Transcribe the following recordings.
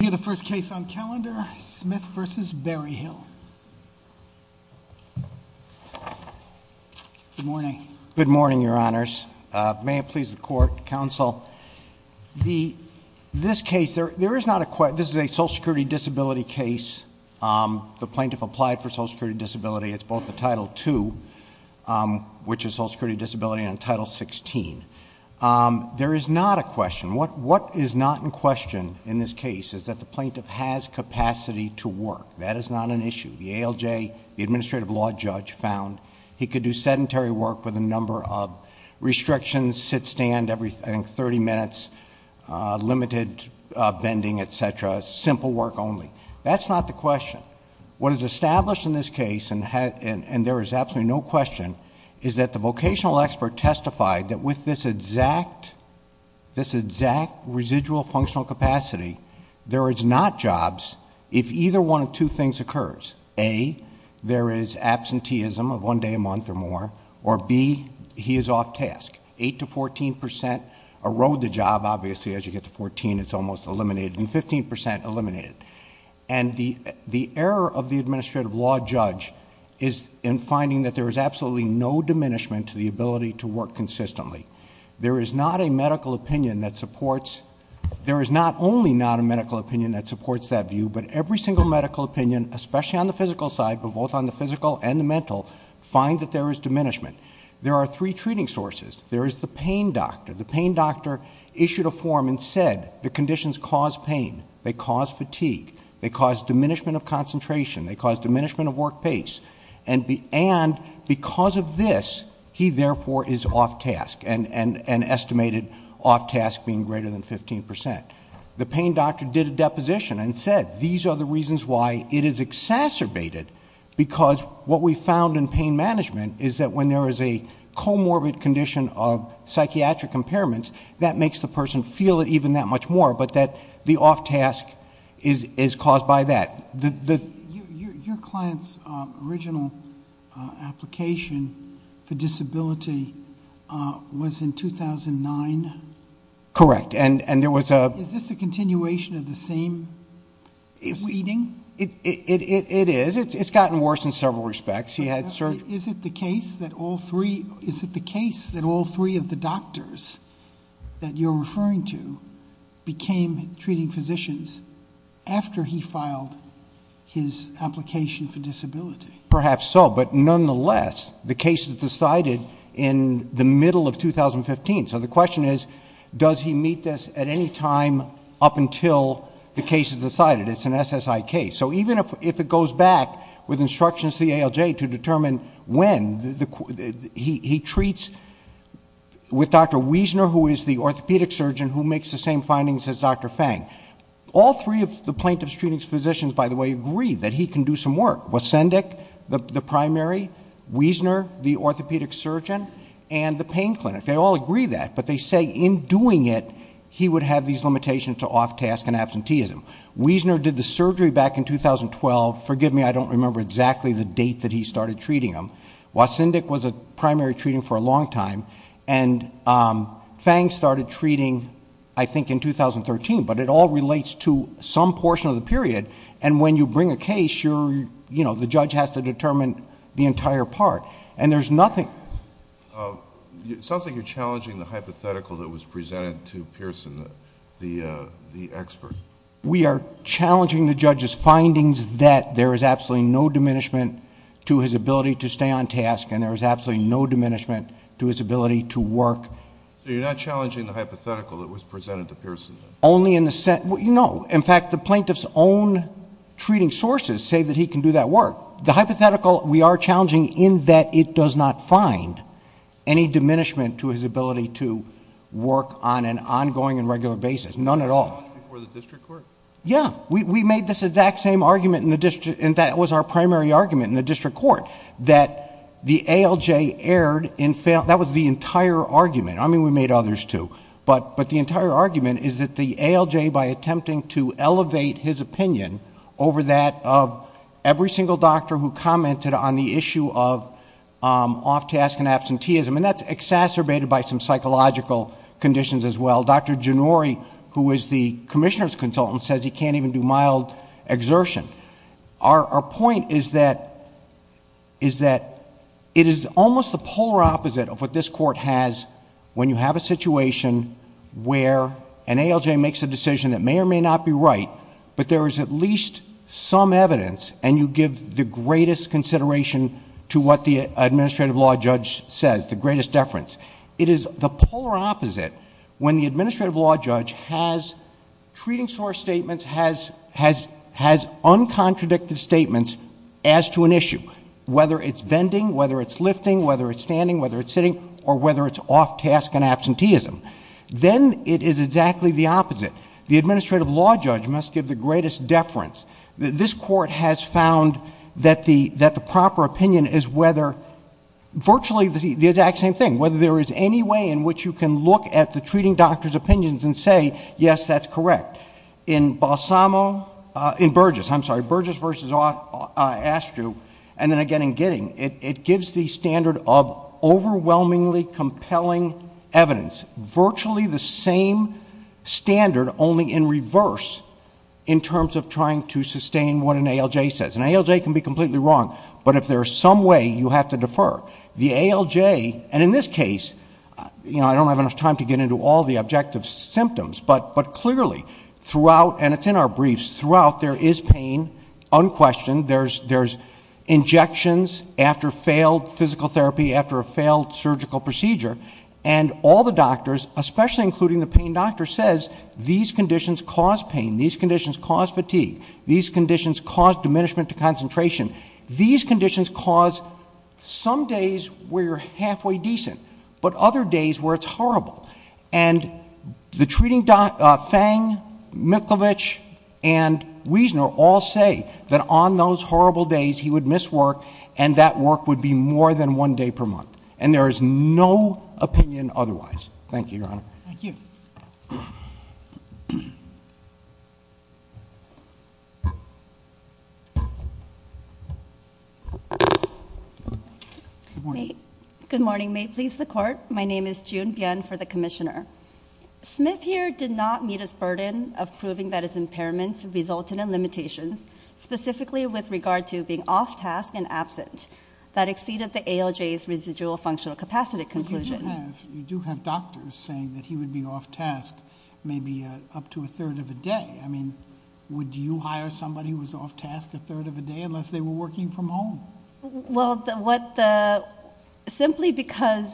The first case on calendar, Smith v. Berryhill. Good morning. Good morning, Your Honors. May it please the Court, Counsel. This case, this is a Social Security Disability case. The plaintiff applied for Social Security Disability. It's both the Title II, which is Social Security Disability, and Title XVI. There is not a question. What is not in question in this case is that the plaintiff has capacity to work. That is not an issue. The ALJ, the Administrative Law Judge, found he could do sedentary work with a number of restrictions, sit-stand every, I think, thirty minutes, limited bending, et cetera, simple work only. That's not the question. What is established in this case, and there is absolutely no question, is that the vocational expert testified that with this exact residual functional capacity, there is not jobs if either one of two things occurs. A, there is absenteeism of one day a month or more, or B, he is off task. Eight to fourteen percent erode the job. Obviously, as you get to fourteen, it's almost eliminated, and fifteen percent eliminated. And the error of the Administrative Law Judge is in finding that there is absolutely no diminishment to the ability to work consistently. There is not a medical opinion that supports, there is not only not a medical opinion that supports that view, but every single medical opinion, especially on the physical side, but both on the physical and the mental, find that there is diminishment. There are three treating sources. There is the pain doctor. The pain doctor issued a form and said the conditions cause pain. They cause fatigue. They cause diminishment of concentration. They cause diminishment of work pace. And because of this, he therefore is off task, and estimated off task being greater than fifteen percent. The pain doctor did a deposition and said these are the reasons why it is exacerbated, because what we found in pain management is that when there is a comorbid condition of psychiatric impairments, that makes the person feel it even that much more, but that the off task is caused by that. Your client's original application for disability was in 2009? Correct, and there was a- Is this a continuation of the same proceeding? It is. It's gotten worse in several respects. He had surgery. Is it the case that all three of the doctors that you're referring to became treating physicians after he filed his application for disability? Perhaps so, but nonetheless, the case is decided in the middle of 2015. So the question is, does he meet this at any time up until the case is decided? It's an SSI case. So even if it goes back with instructions to the ALJ to determine when, he treats with Dr. Wiesner, who is the orthopedic surgeon who makes the same findings as Dr. Fang. All three of the plaintiff's treating physicians, by the way, agree that he can do some work. Wesendik, the primary, Wiesner, the orthopedic surgeon, and the pain clinic. They all agree that, but they say in doing it, he would have these limitations to off task and absenteeism. Wiesner did the surgery back in 2012. Forgive me, I don't remember exactly the date that he started treating him. Wesendik was a primary treating for a long time, and Fang started treating, I think, in 2013. But it all relates to some portion of the period, and when you bring a case, the judge has to determine the entire part, and there's nothing... It sounds like you're challenging the hypothetical that was presented to Pearson, the expert. We are challenging the judge's findings that there is absolutely no diminishment to his ability to stay on task, and there is absolutely no diminishment to his ability to work. So you're not challenging the hypothetical that was presented to Pearson? Only in the sense... no. In fact, the plaintiff's own treating sources say that he can do that work. The hypothetical we are challenging in that it does not find any diminishment to his ability to work on an ongoing and regular basis. None at all. Before the district court? Yeah. We made this exact same argument in the district, and that was our primary argument in the district court, that the ALJ erred in... that was the entire argument. I mean, we made others, too, but the entire argument is that the ALJ, by attempting to elevate his opinion over that of every single doctor who commented on the issue of off-task and absenteeism, and that's exacerbated by some psychological conditions as well. Dr. Gennori, who is the Commissioner's consultant, says he can't even do mild exertion. Our point is that it is almost the polar opposite of what this Court has when you have a situation where an ALJ makes a decision that may or may not be right, but there is at least some evidence, and you give the greatest consideration to what the administrative law judge says, the greatest deference. It is the polar opposite when the administrative law judge has treating source statements, has uncontradicted statements as to an issue, whether it's vending, whether it's lifting, whether it's standing, whether it's sitting, or whether it's off-task and absenteeism. Then it is exactly the opposite. The administrative law judge must give the greatest deference. This Court has found that the proper opinion is whether virtually the exact same thing, whether there is any way in which you can look at the treating doctor's opinions and say, yes, that's correct. In Balsamo... in Burgess, I'm sorry, Burgess v. Astrew, and then again in Gidding, it gives the standard of overwhelmingly compelling evidence, virtually the same standard only in reverse in terms of trying to sustain what an ALJ says. An ALJ can be completely wrong, but if there is some way, you have to defer. The ALJ, and in this case, you know, I don't have enough time to get into all the objective symptoms, but clearly throughout, and it's in our briefs, throughout there is pain unquestioned. There's injections after failed physical therapy, after a failed surgical procedure. And all the doctors, especially including the pain doctor, says these conditions cause pain. These conditions cause fatigue. These conditions cause diminishment to concentration. These conditions cause some days where you're halfway decent, but other days where it's horrible. And the treating doctor, Fang, Mikulovic, and Wiesner all say that on those horrible days, he would miss work and that work would be more than one day per month. And there is no opinion otherwise. Thank you, Your Honor. Thank you. Good morning. May it please the Court. My name is June Byun for the Commissioner. Smith here did not meet his burden of proving that his impairments resulted in limitations, specifically with regard to being off task and absent. That exceeded the ALJ's residual functional capacity conclusion. But you do have doctors saying that he would be off task maybe up to a third of a day. I mean, would you hire somebody who was off task a third of a day unless they were working from home? Well, simply because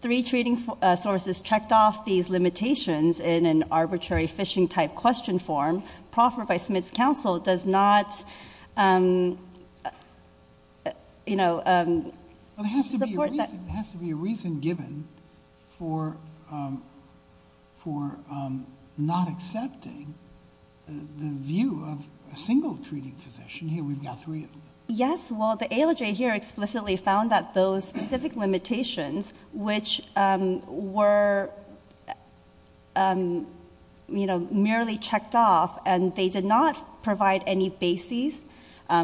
three treating sources checked off these limitations in an arbitrary fishing-type question form, proffer by Smith's counsel does not, you know, support that. Well, there has to be a reason given for not accepting the view of a single treating physician. We've got three of them. Yes. Well, the ALJ here explicitly found that those specific limitations, which were, you know, merely checked off and they did not provide any basis,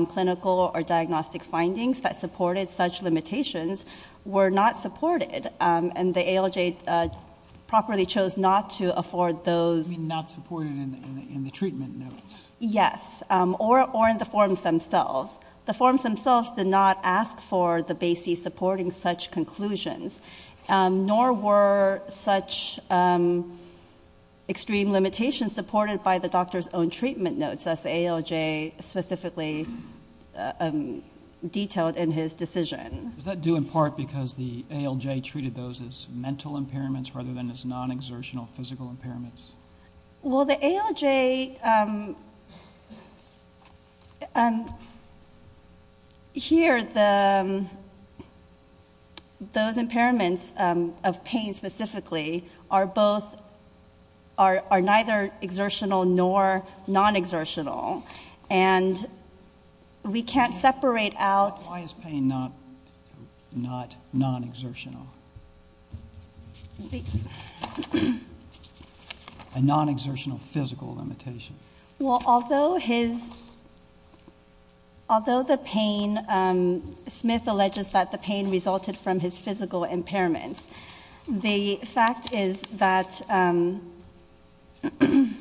clinical or diagnostic findings that supported such limitations, were not supported. And the ALJ properly chose not to afford those. You mean not supported in the treatment notes? Yes. Or in the forms themselves. The forms themselves did not ask for the basis supporting such conclusions, nor were such extreme limitations supported by the doctor's own treatment notes, as the ALJ specifically detailed in his decision. Was that due in part because the ALJ treated those as mental impairments rather than as non-exertional physical impairments? Well, the ALJ here, those impairments of pain specifically, are neither exertional nor non-exertional, and we can't separate out. Why is pain not non-exertional? A non-exertional physical limitation. Well, although the pain, Smith alleges that the pain resulted from his physical impairments, the fact is that, you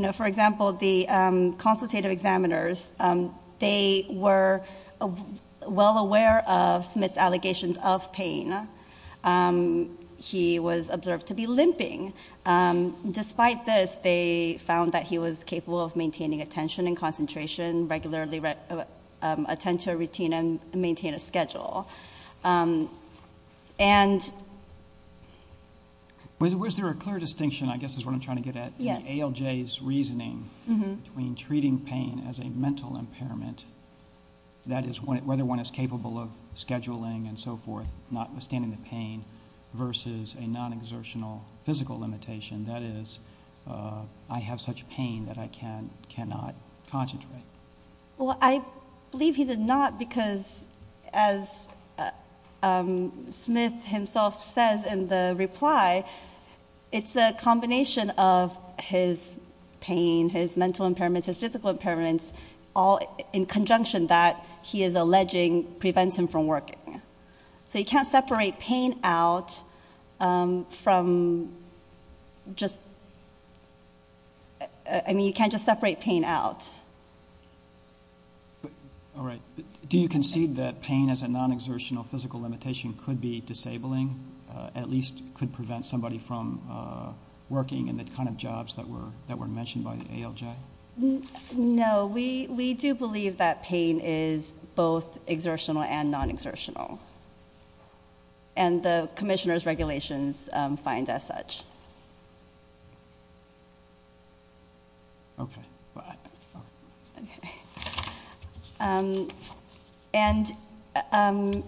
know, for example, the consultative examiners, they were well aware of Smith's allegations of pain. He was observed to be limping. Despite this, they found that he was capable of maintaining attention and concentration, regularly attend to a routine, and maintain a schedule. And... Was there a clear distinction, I guess is what I'm trying to get at, in ALJ's reasoning between treating pain as a mental impairment, that is, whether one is capable of scheduling and so forth, notwithstanding the pain, versus a non-exertional physical limitation, that is, I have such pain that I cannot concentrate. Well, I believe he did not because, as Smith himself says in the reply, it's a combination of his pain, his mental impairments, his physical impairments, all in conjunction that he is alleging prevents him from working. So you can't separate pain out from just... I mean, you can't just separate pain out. All right. Do you concede that pain as a non-exertional physical limitation could be disabling, at least could prevent somebody from working in the kind of jobs that were mentioned by ALJ? No. We do believe that pain is both exertional and non-exertional. And the commissioner's regulations find as such. Okay. And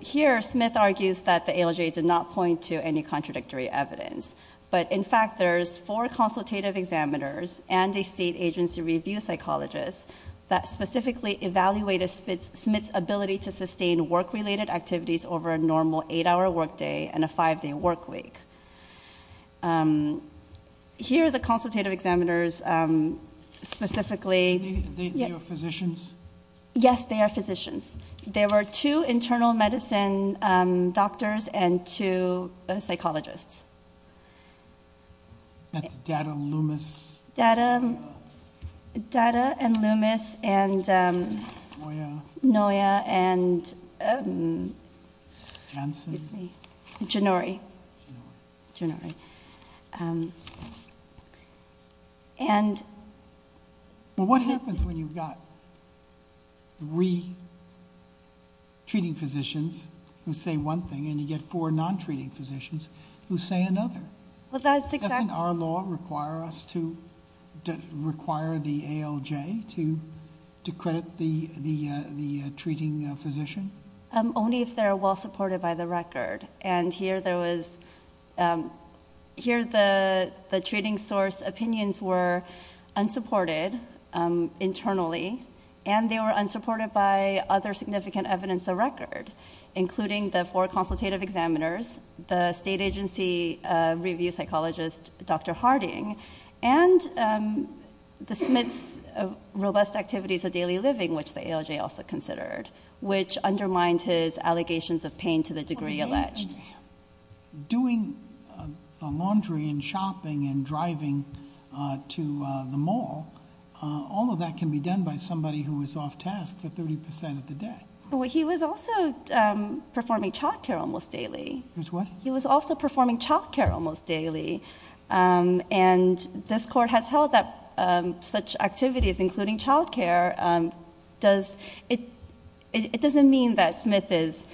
here Smith argues that the ALJ did not point to any contradictory evidence. But, in fact, there's four consultative examiners and a state agency review psychologist that specifically evaluate Smith's ability to sustain work-related activities over a normal eight-hour work day and a five-day work week. Here are the consultative examiners specifically. Yes, they are physicians. There were two internal medicine doctors and two psychologists. That's Datta and Loomis. Datta and Loomis and... Noya. Noya and... Jansen. Janori. Janori. Janori. Well, what happens when you've got three treating physicians who say one thing and you get four non-treating physicians who say another? Doesn't our law require us to require the ALJ to credit the treating physician? Only if they're well-supported by the record. And here the treating source opinions were unsupported internally, and they were unsupported by other significant evidence of record, including the four consultative examiners, the state agency review psychologist Dr. Harding, and the Smith's robust activities of daily living, which the ALJ also considered, which undermined his allegations of pain to the degree alleged. Doing the laundry and shopping and driving to the mall, all of that can be done by somebody who is off task for 30% of the day. Well, he was also performing child care almost daily. He was what? He was also performing child care almost daily, and this court has held that such activities, including child care, it doesn't mean that Smith is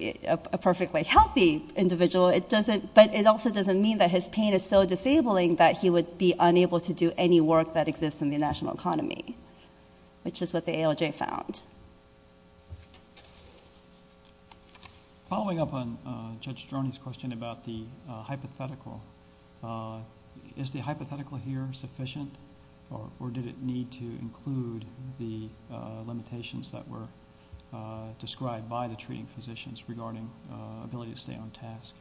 a perfectly healthy individual, but it also doesn't mean that his pain is so disabling that he would be unable to do any work that exists in the national economy, which is what the ALJ found. Following up on Judge Stroni's question about the hypothetical, is the hypothetical here sufficient, or did it need to include the limitations that were described by the treating physicians regarding ability to stay on task?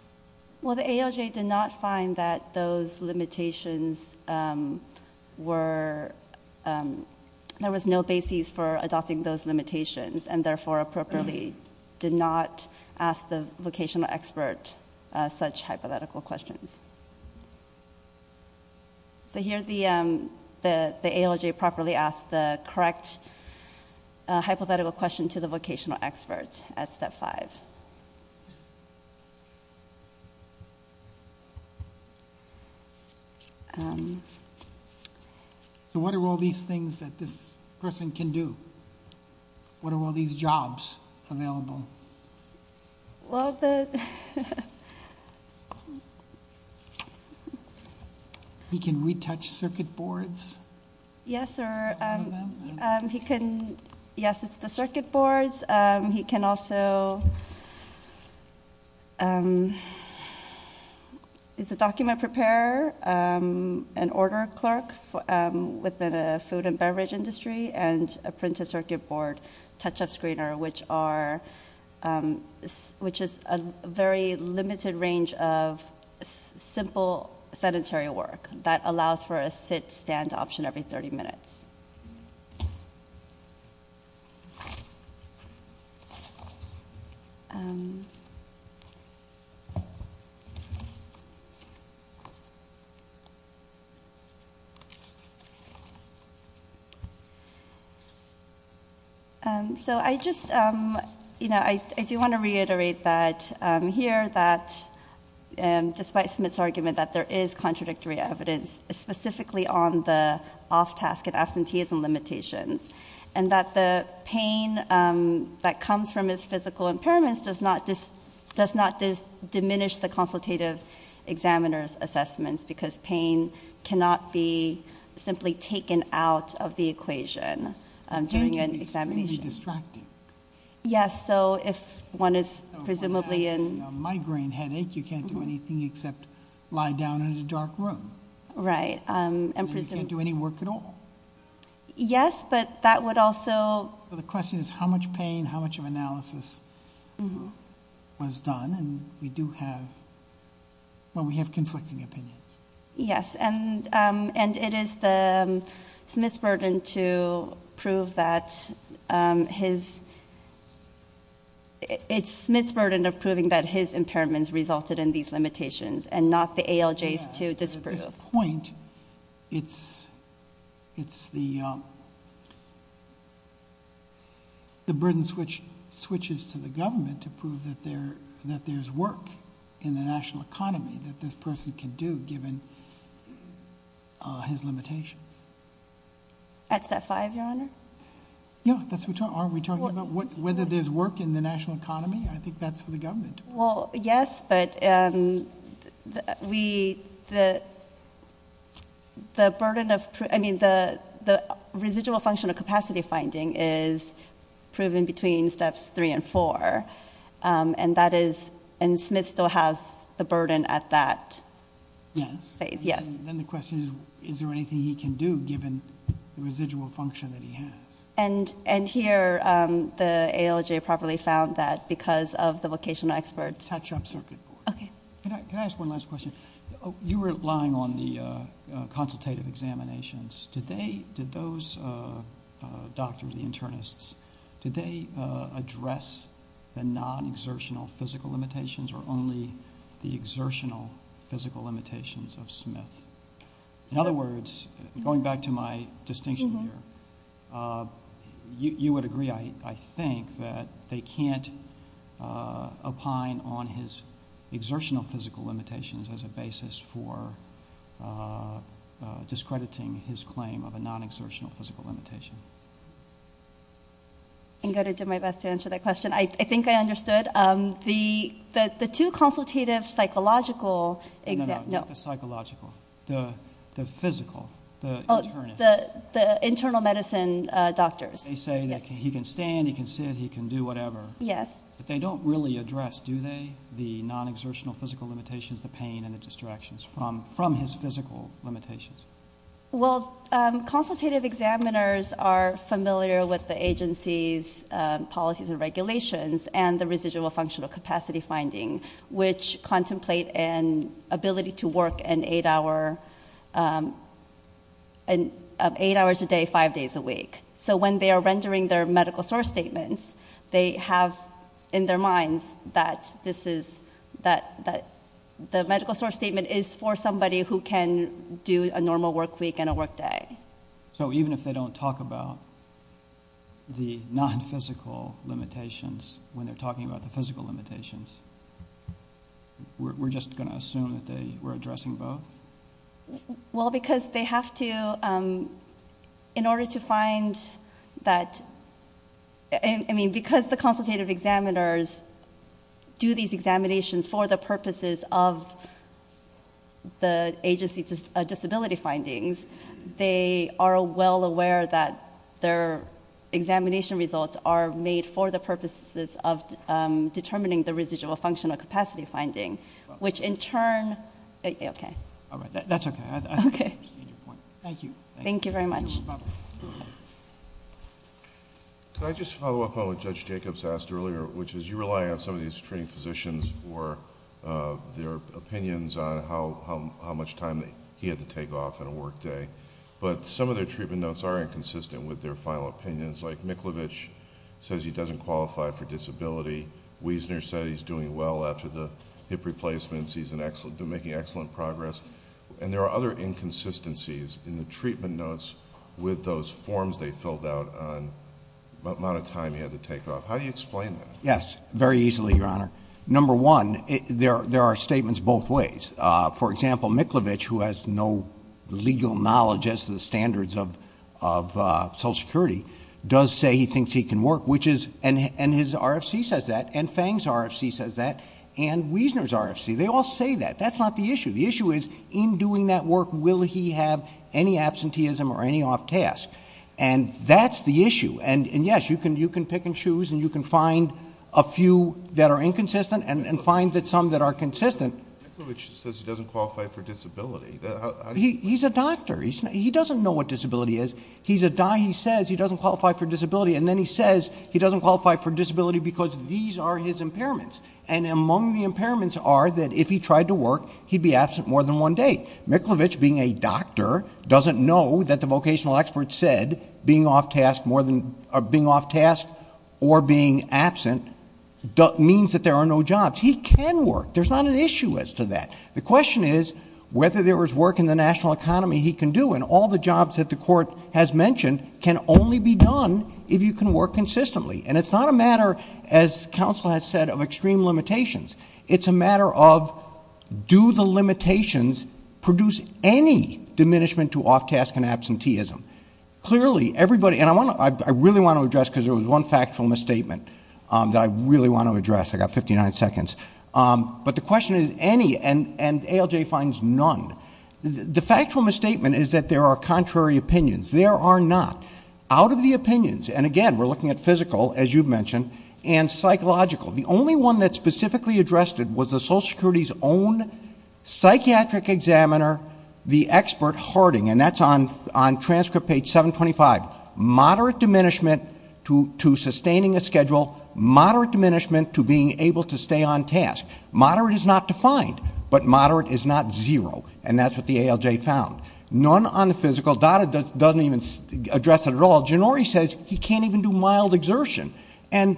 Well, the ALJ did not find that those limitations were ñ there was no basis for adopting those limitations and therefore appropriately did not ask the vocational expert such hypothetical questions. So here the ALJ properly asked the correct hypothetical question to the vocational expert at step five. So what are all these things that this person can do? What are all these jobs available? Well, the ñ He can retouch circuit boards. Yes, or he can ñ yes, it's the circuit boards. He can also ñ It's a document preparer, an order clerk within a food and beverage industry, and a printed circuit board touch-up screener, which are ñ which is a very limited range of simple sedentary work that allows for a sit-stand option every 30 minutes. So I just ñ I just wanted to reiterate that here that despite Smith's argument that there is contradictory evidence, specifically on the off-task and absenteeism limitations, and that the pain that comes from his physical impairments does not diminish the consultative examiner's assessments because pain cannot be simply taken out of the equation during an examination. Pain can be distracted. Yes, so if one is presumably in ñ So when you have a migraine headache, you can't do anything except lie down in a dark room. Right. And you can't do any work at all. Yes, but that would also ñ So the question is how much pain, how much of analysis was done, and we do have ñ well, we have conflicting opinions. Yes, and it is the ñ it's Smith's burden to prove that his ñ it's Smith's burden of proving that his impairments resulted in these limitations and not the ALJ's to disprove. At this point, it's the ñ the burden switches to the government to prove that there's work in the national economy that this person can do given his limitations. At step five, Your Honor? Yeah, that's what we're talking ñ aren't we talking about whether there's work in the national economy? I think that's for the government. Well, yes, but we ñ the burden of ñ I mean, the residual function of capacity finding is proven between steps three and four, and that is ñ and Smith still has the burden at that phase. Yes. Yes. Then the question is, is there anything he can do given the residual function that he has? And here, the ALJ probably found that because of the vocational expert. Touch-up circuit board. Okay. Can I ask one last question? You were relying on the consultative examinations. Did they ñ did those doctors, the internists, did they address the non-exertional physical limitations or only the exertional physical limitations of Smith? In other words, going back to my distinction here, you would agree, I think, that they can't opine for discrediting his claim of a non-exertional physical limitation. I'm going to do my best to answer that question. I think I understood. The two consultative psychological exam ñ No, no, not the psychological. The physical, the internist. The internal medicine doctors. They say that he can stand, he can sit, he can do whatever. Yes. But they don't really address, do they, the non-exertional physical limitations, the pain, and the distractions from his physical limitations? Well, consultative examiners are familiar with the agency's policies and regulations and the residual functional capacity finding, which contemplate an ability to work 8 hours a day, 5 days a week. So when they are rendering their medical source statements, they have in their minds that the medical source statement is for somebody who can do a normal work week and a work day. So even if they don't talk about the non-physical limitations, when they're talking about the physical limitations, we're just going to assume that they were addressing both? Well, because they have to, in order to find that, I mean, because the consultative examiners do these examinations for the purposes of the agency's disability findings, they are well aware that their examination results are made for the purposes of determining the residual functional capacity finding, which in turn... Okay. All right. That's okay. I understand your point. Thank you. Thank you very much. Can I just follow up on what Judge Jacobs asked earlier, which is you rely on some of these treating physicians for their opinions on how much time he had to take off on a work day, but some of their treatment notes are inconsistent with their final opinions, like Miklovich says he doesn't qualify for disability. Wiesner said he's doing well after the hip replacements. He's making excellent progress. And there are other inconsistencies in the treatment notes with those forms they filled out on the amount of time he had to take off. How do you explain that? Yes, very easily, Your Honor. Number one, there are statements both ways. For example, Miklovich, who has no legal knowledge as to the standards of Social Security, does say he thinks he can work, which is... and his RFC says that and Fang's RFC says that and Wiesner's RFC. They all say that. That's not the issue. The issue is in doing that work, will he have any absenteeism or any off task? And that's the issue. And, yes, you can pick and choose, and you can find a few that are inconsistent and find some that are consistent. Miklovich says he doesn't qualify for disability. He's a doctor. He doesn't know what disability is. He says he doesn't qualify for disability, and then he says he doesn't qualify for disability because these are his impairments. And among the impairments are that if he tried to work, he'd be absent more than one day. Miklovich, being a doctor, doesn't know that the vocational expert said being off task or being absent means that there are no jobs. He can work. There's not an issue as to that. The question is whether there is work in the national economy he can do, and all the jobs that the court has mentioned can only be done if you can work consistently. And it's not a matter, as counsel has said, of extreme limitations. It's a matter of do the limitations produce any diminishment to off task and absenteeism. Clearly, everybody, and I really want to address because there was one factual misstatement that I really want to address. I've got 59 seconds. But the question is any, and ALJ finds none. The factual misstatement is that there are contrary opinions. There are not. Out of the opinions, and again, we're looking at physical, as you've mentioned, and psychological, the only one that specifically addressed it was the Social Security's own psychiatric examiner, the expert, Harding. And that's on transcript page 725. Moderate diminishment to sustaining a schedule, moderate diminishment to being able to stay on task. Moderate is not defined, but moderate is not zero, and that's what the ALJ found. None on the physical. Dada doesn't even address it at all. Jannori says he can't even do mild exertion. And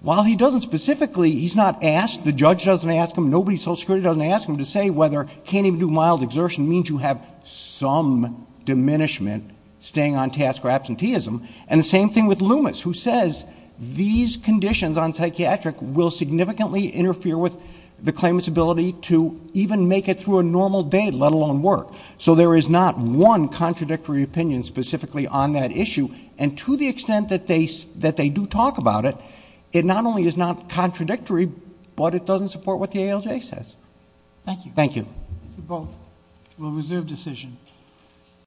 while he doesn't specifically, he's not asked, the judge doesn't ask him, nobody at Social Security doesn't ask him to say whether can't even do mild exertion means you have some diminishment, staying on task or absenteeism. And the same thing with Loomis, who says these conditions on psychiatric will significantly interfere with the claimant's ability to even make it through a normal day, let alone work. So there is not one contradictory opinion specifically on that issue. And to the extent that they do talk about it, it not only is not contradictory, but it doesn't support what the ALJ says. Thank you. Thank you. Thank you both. We'll reserve decision.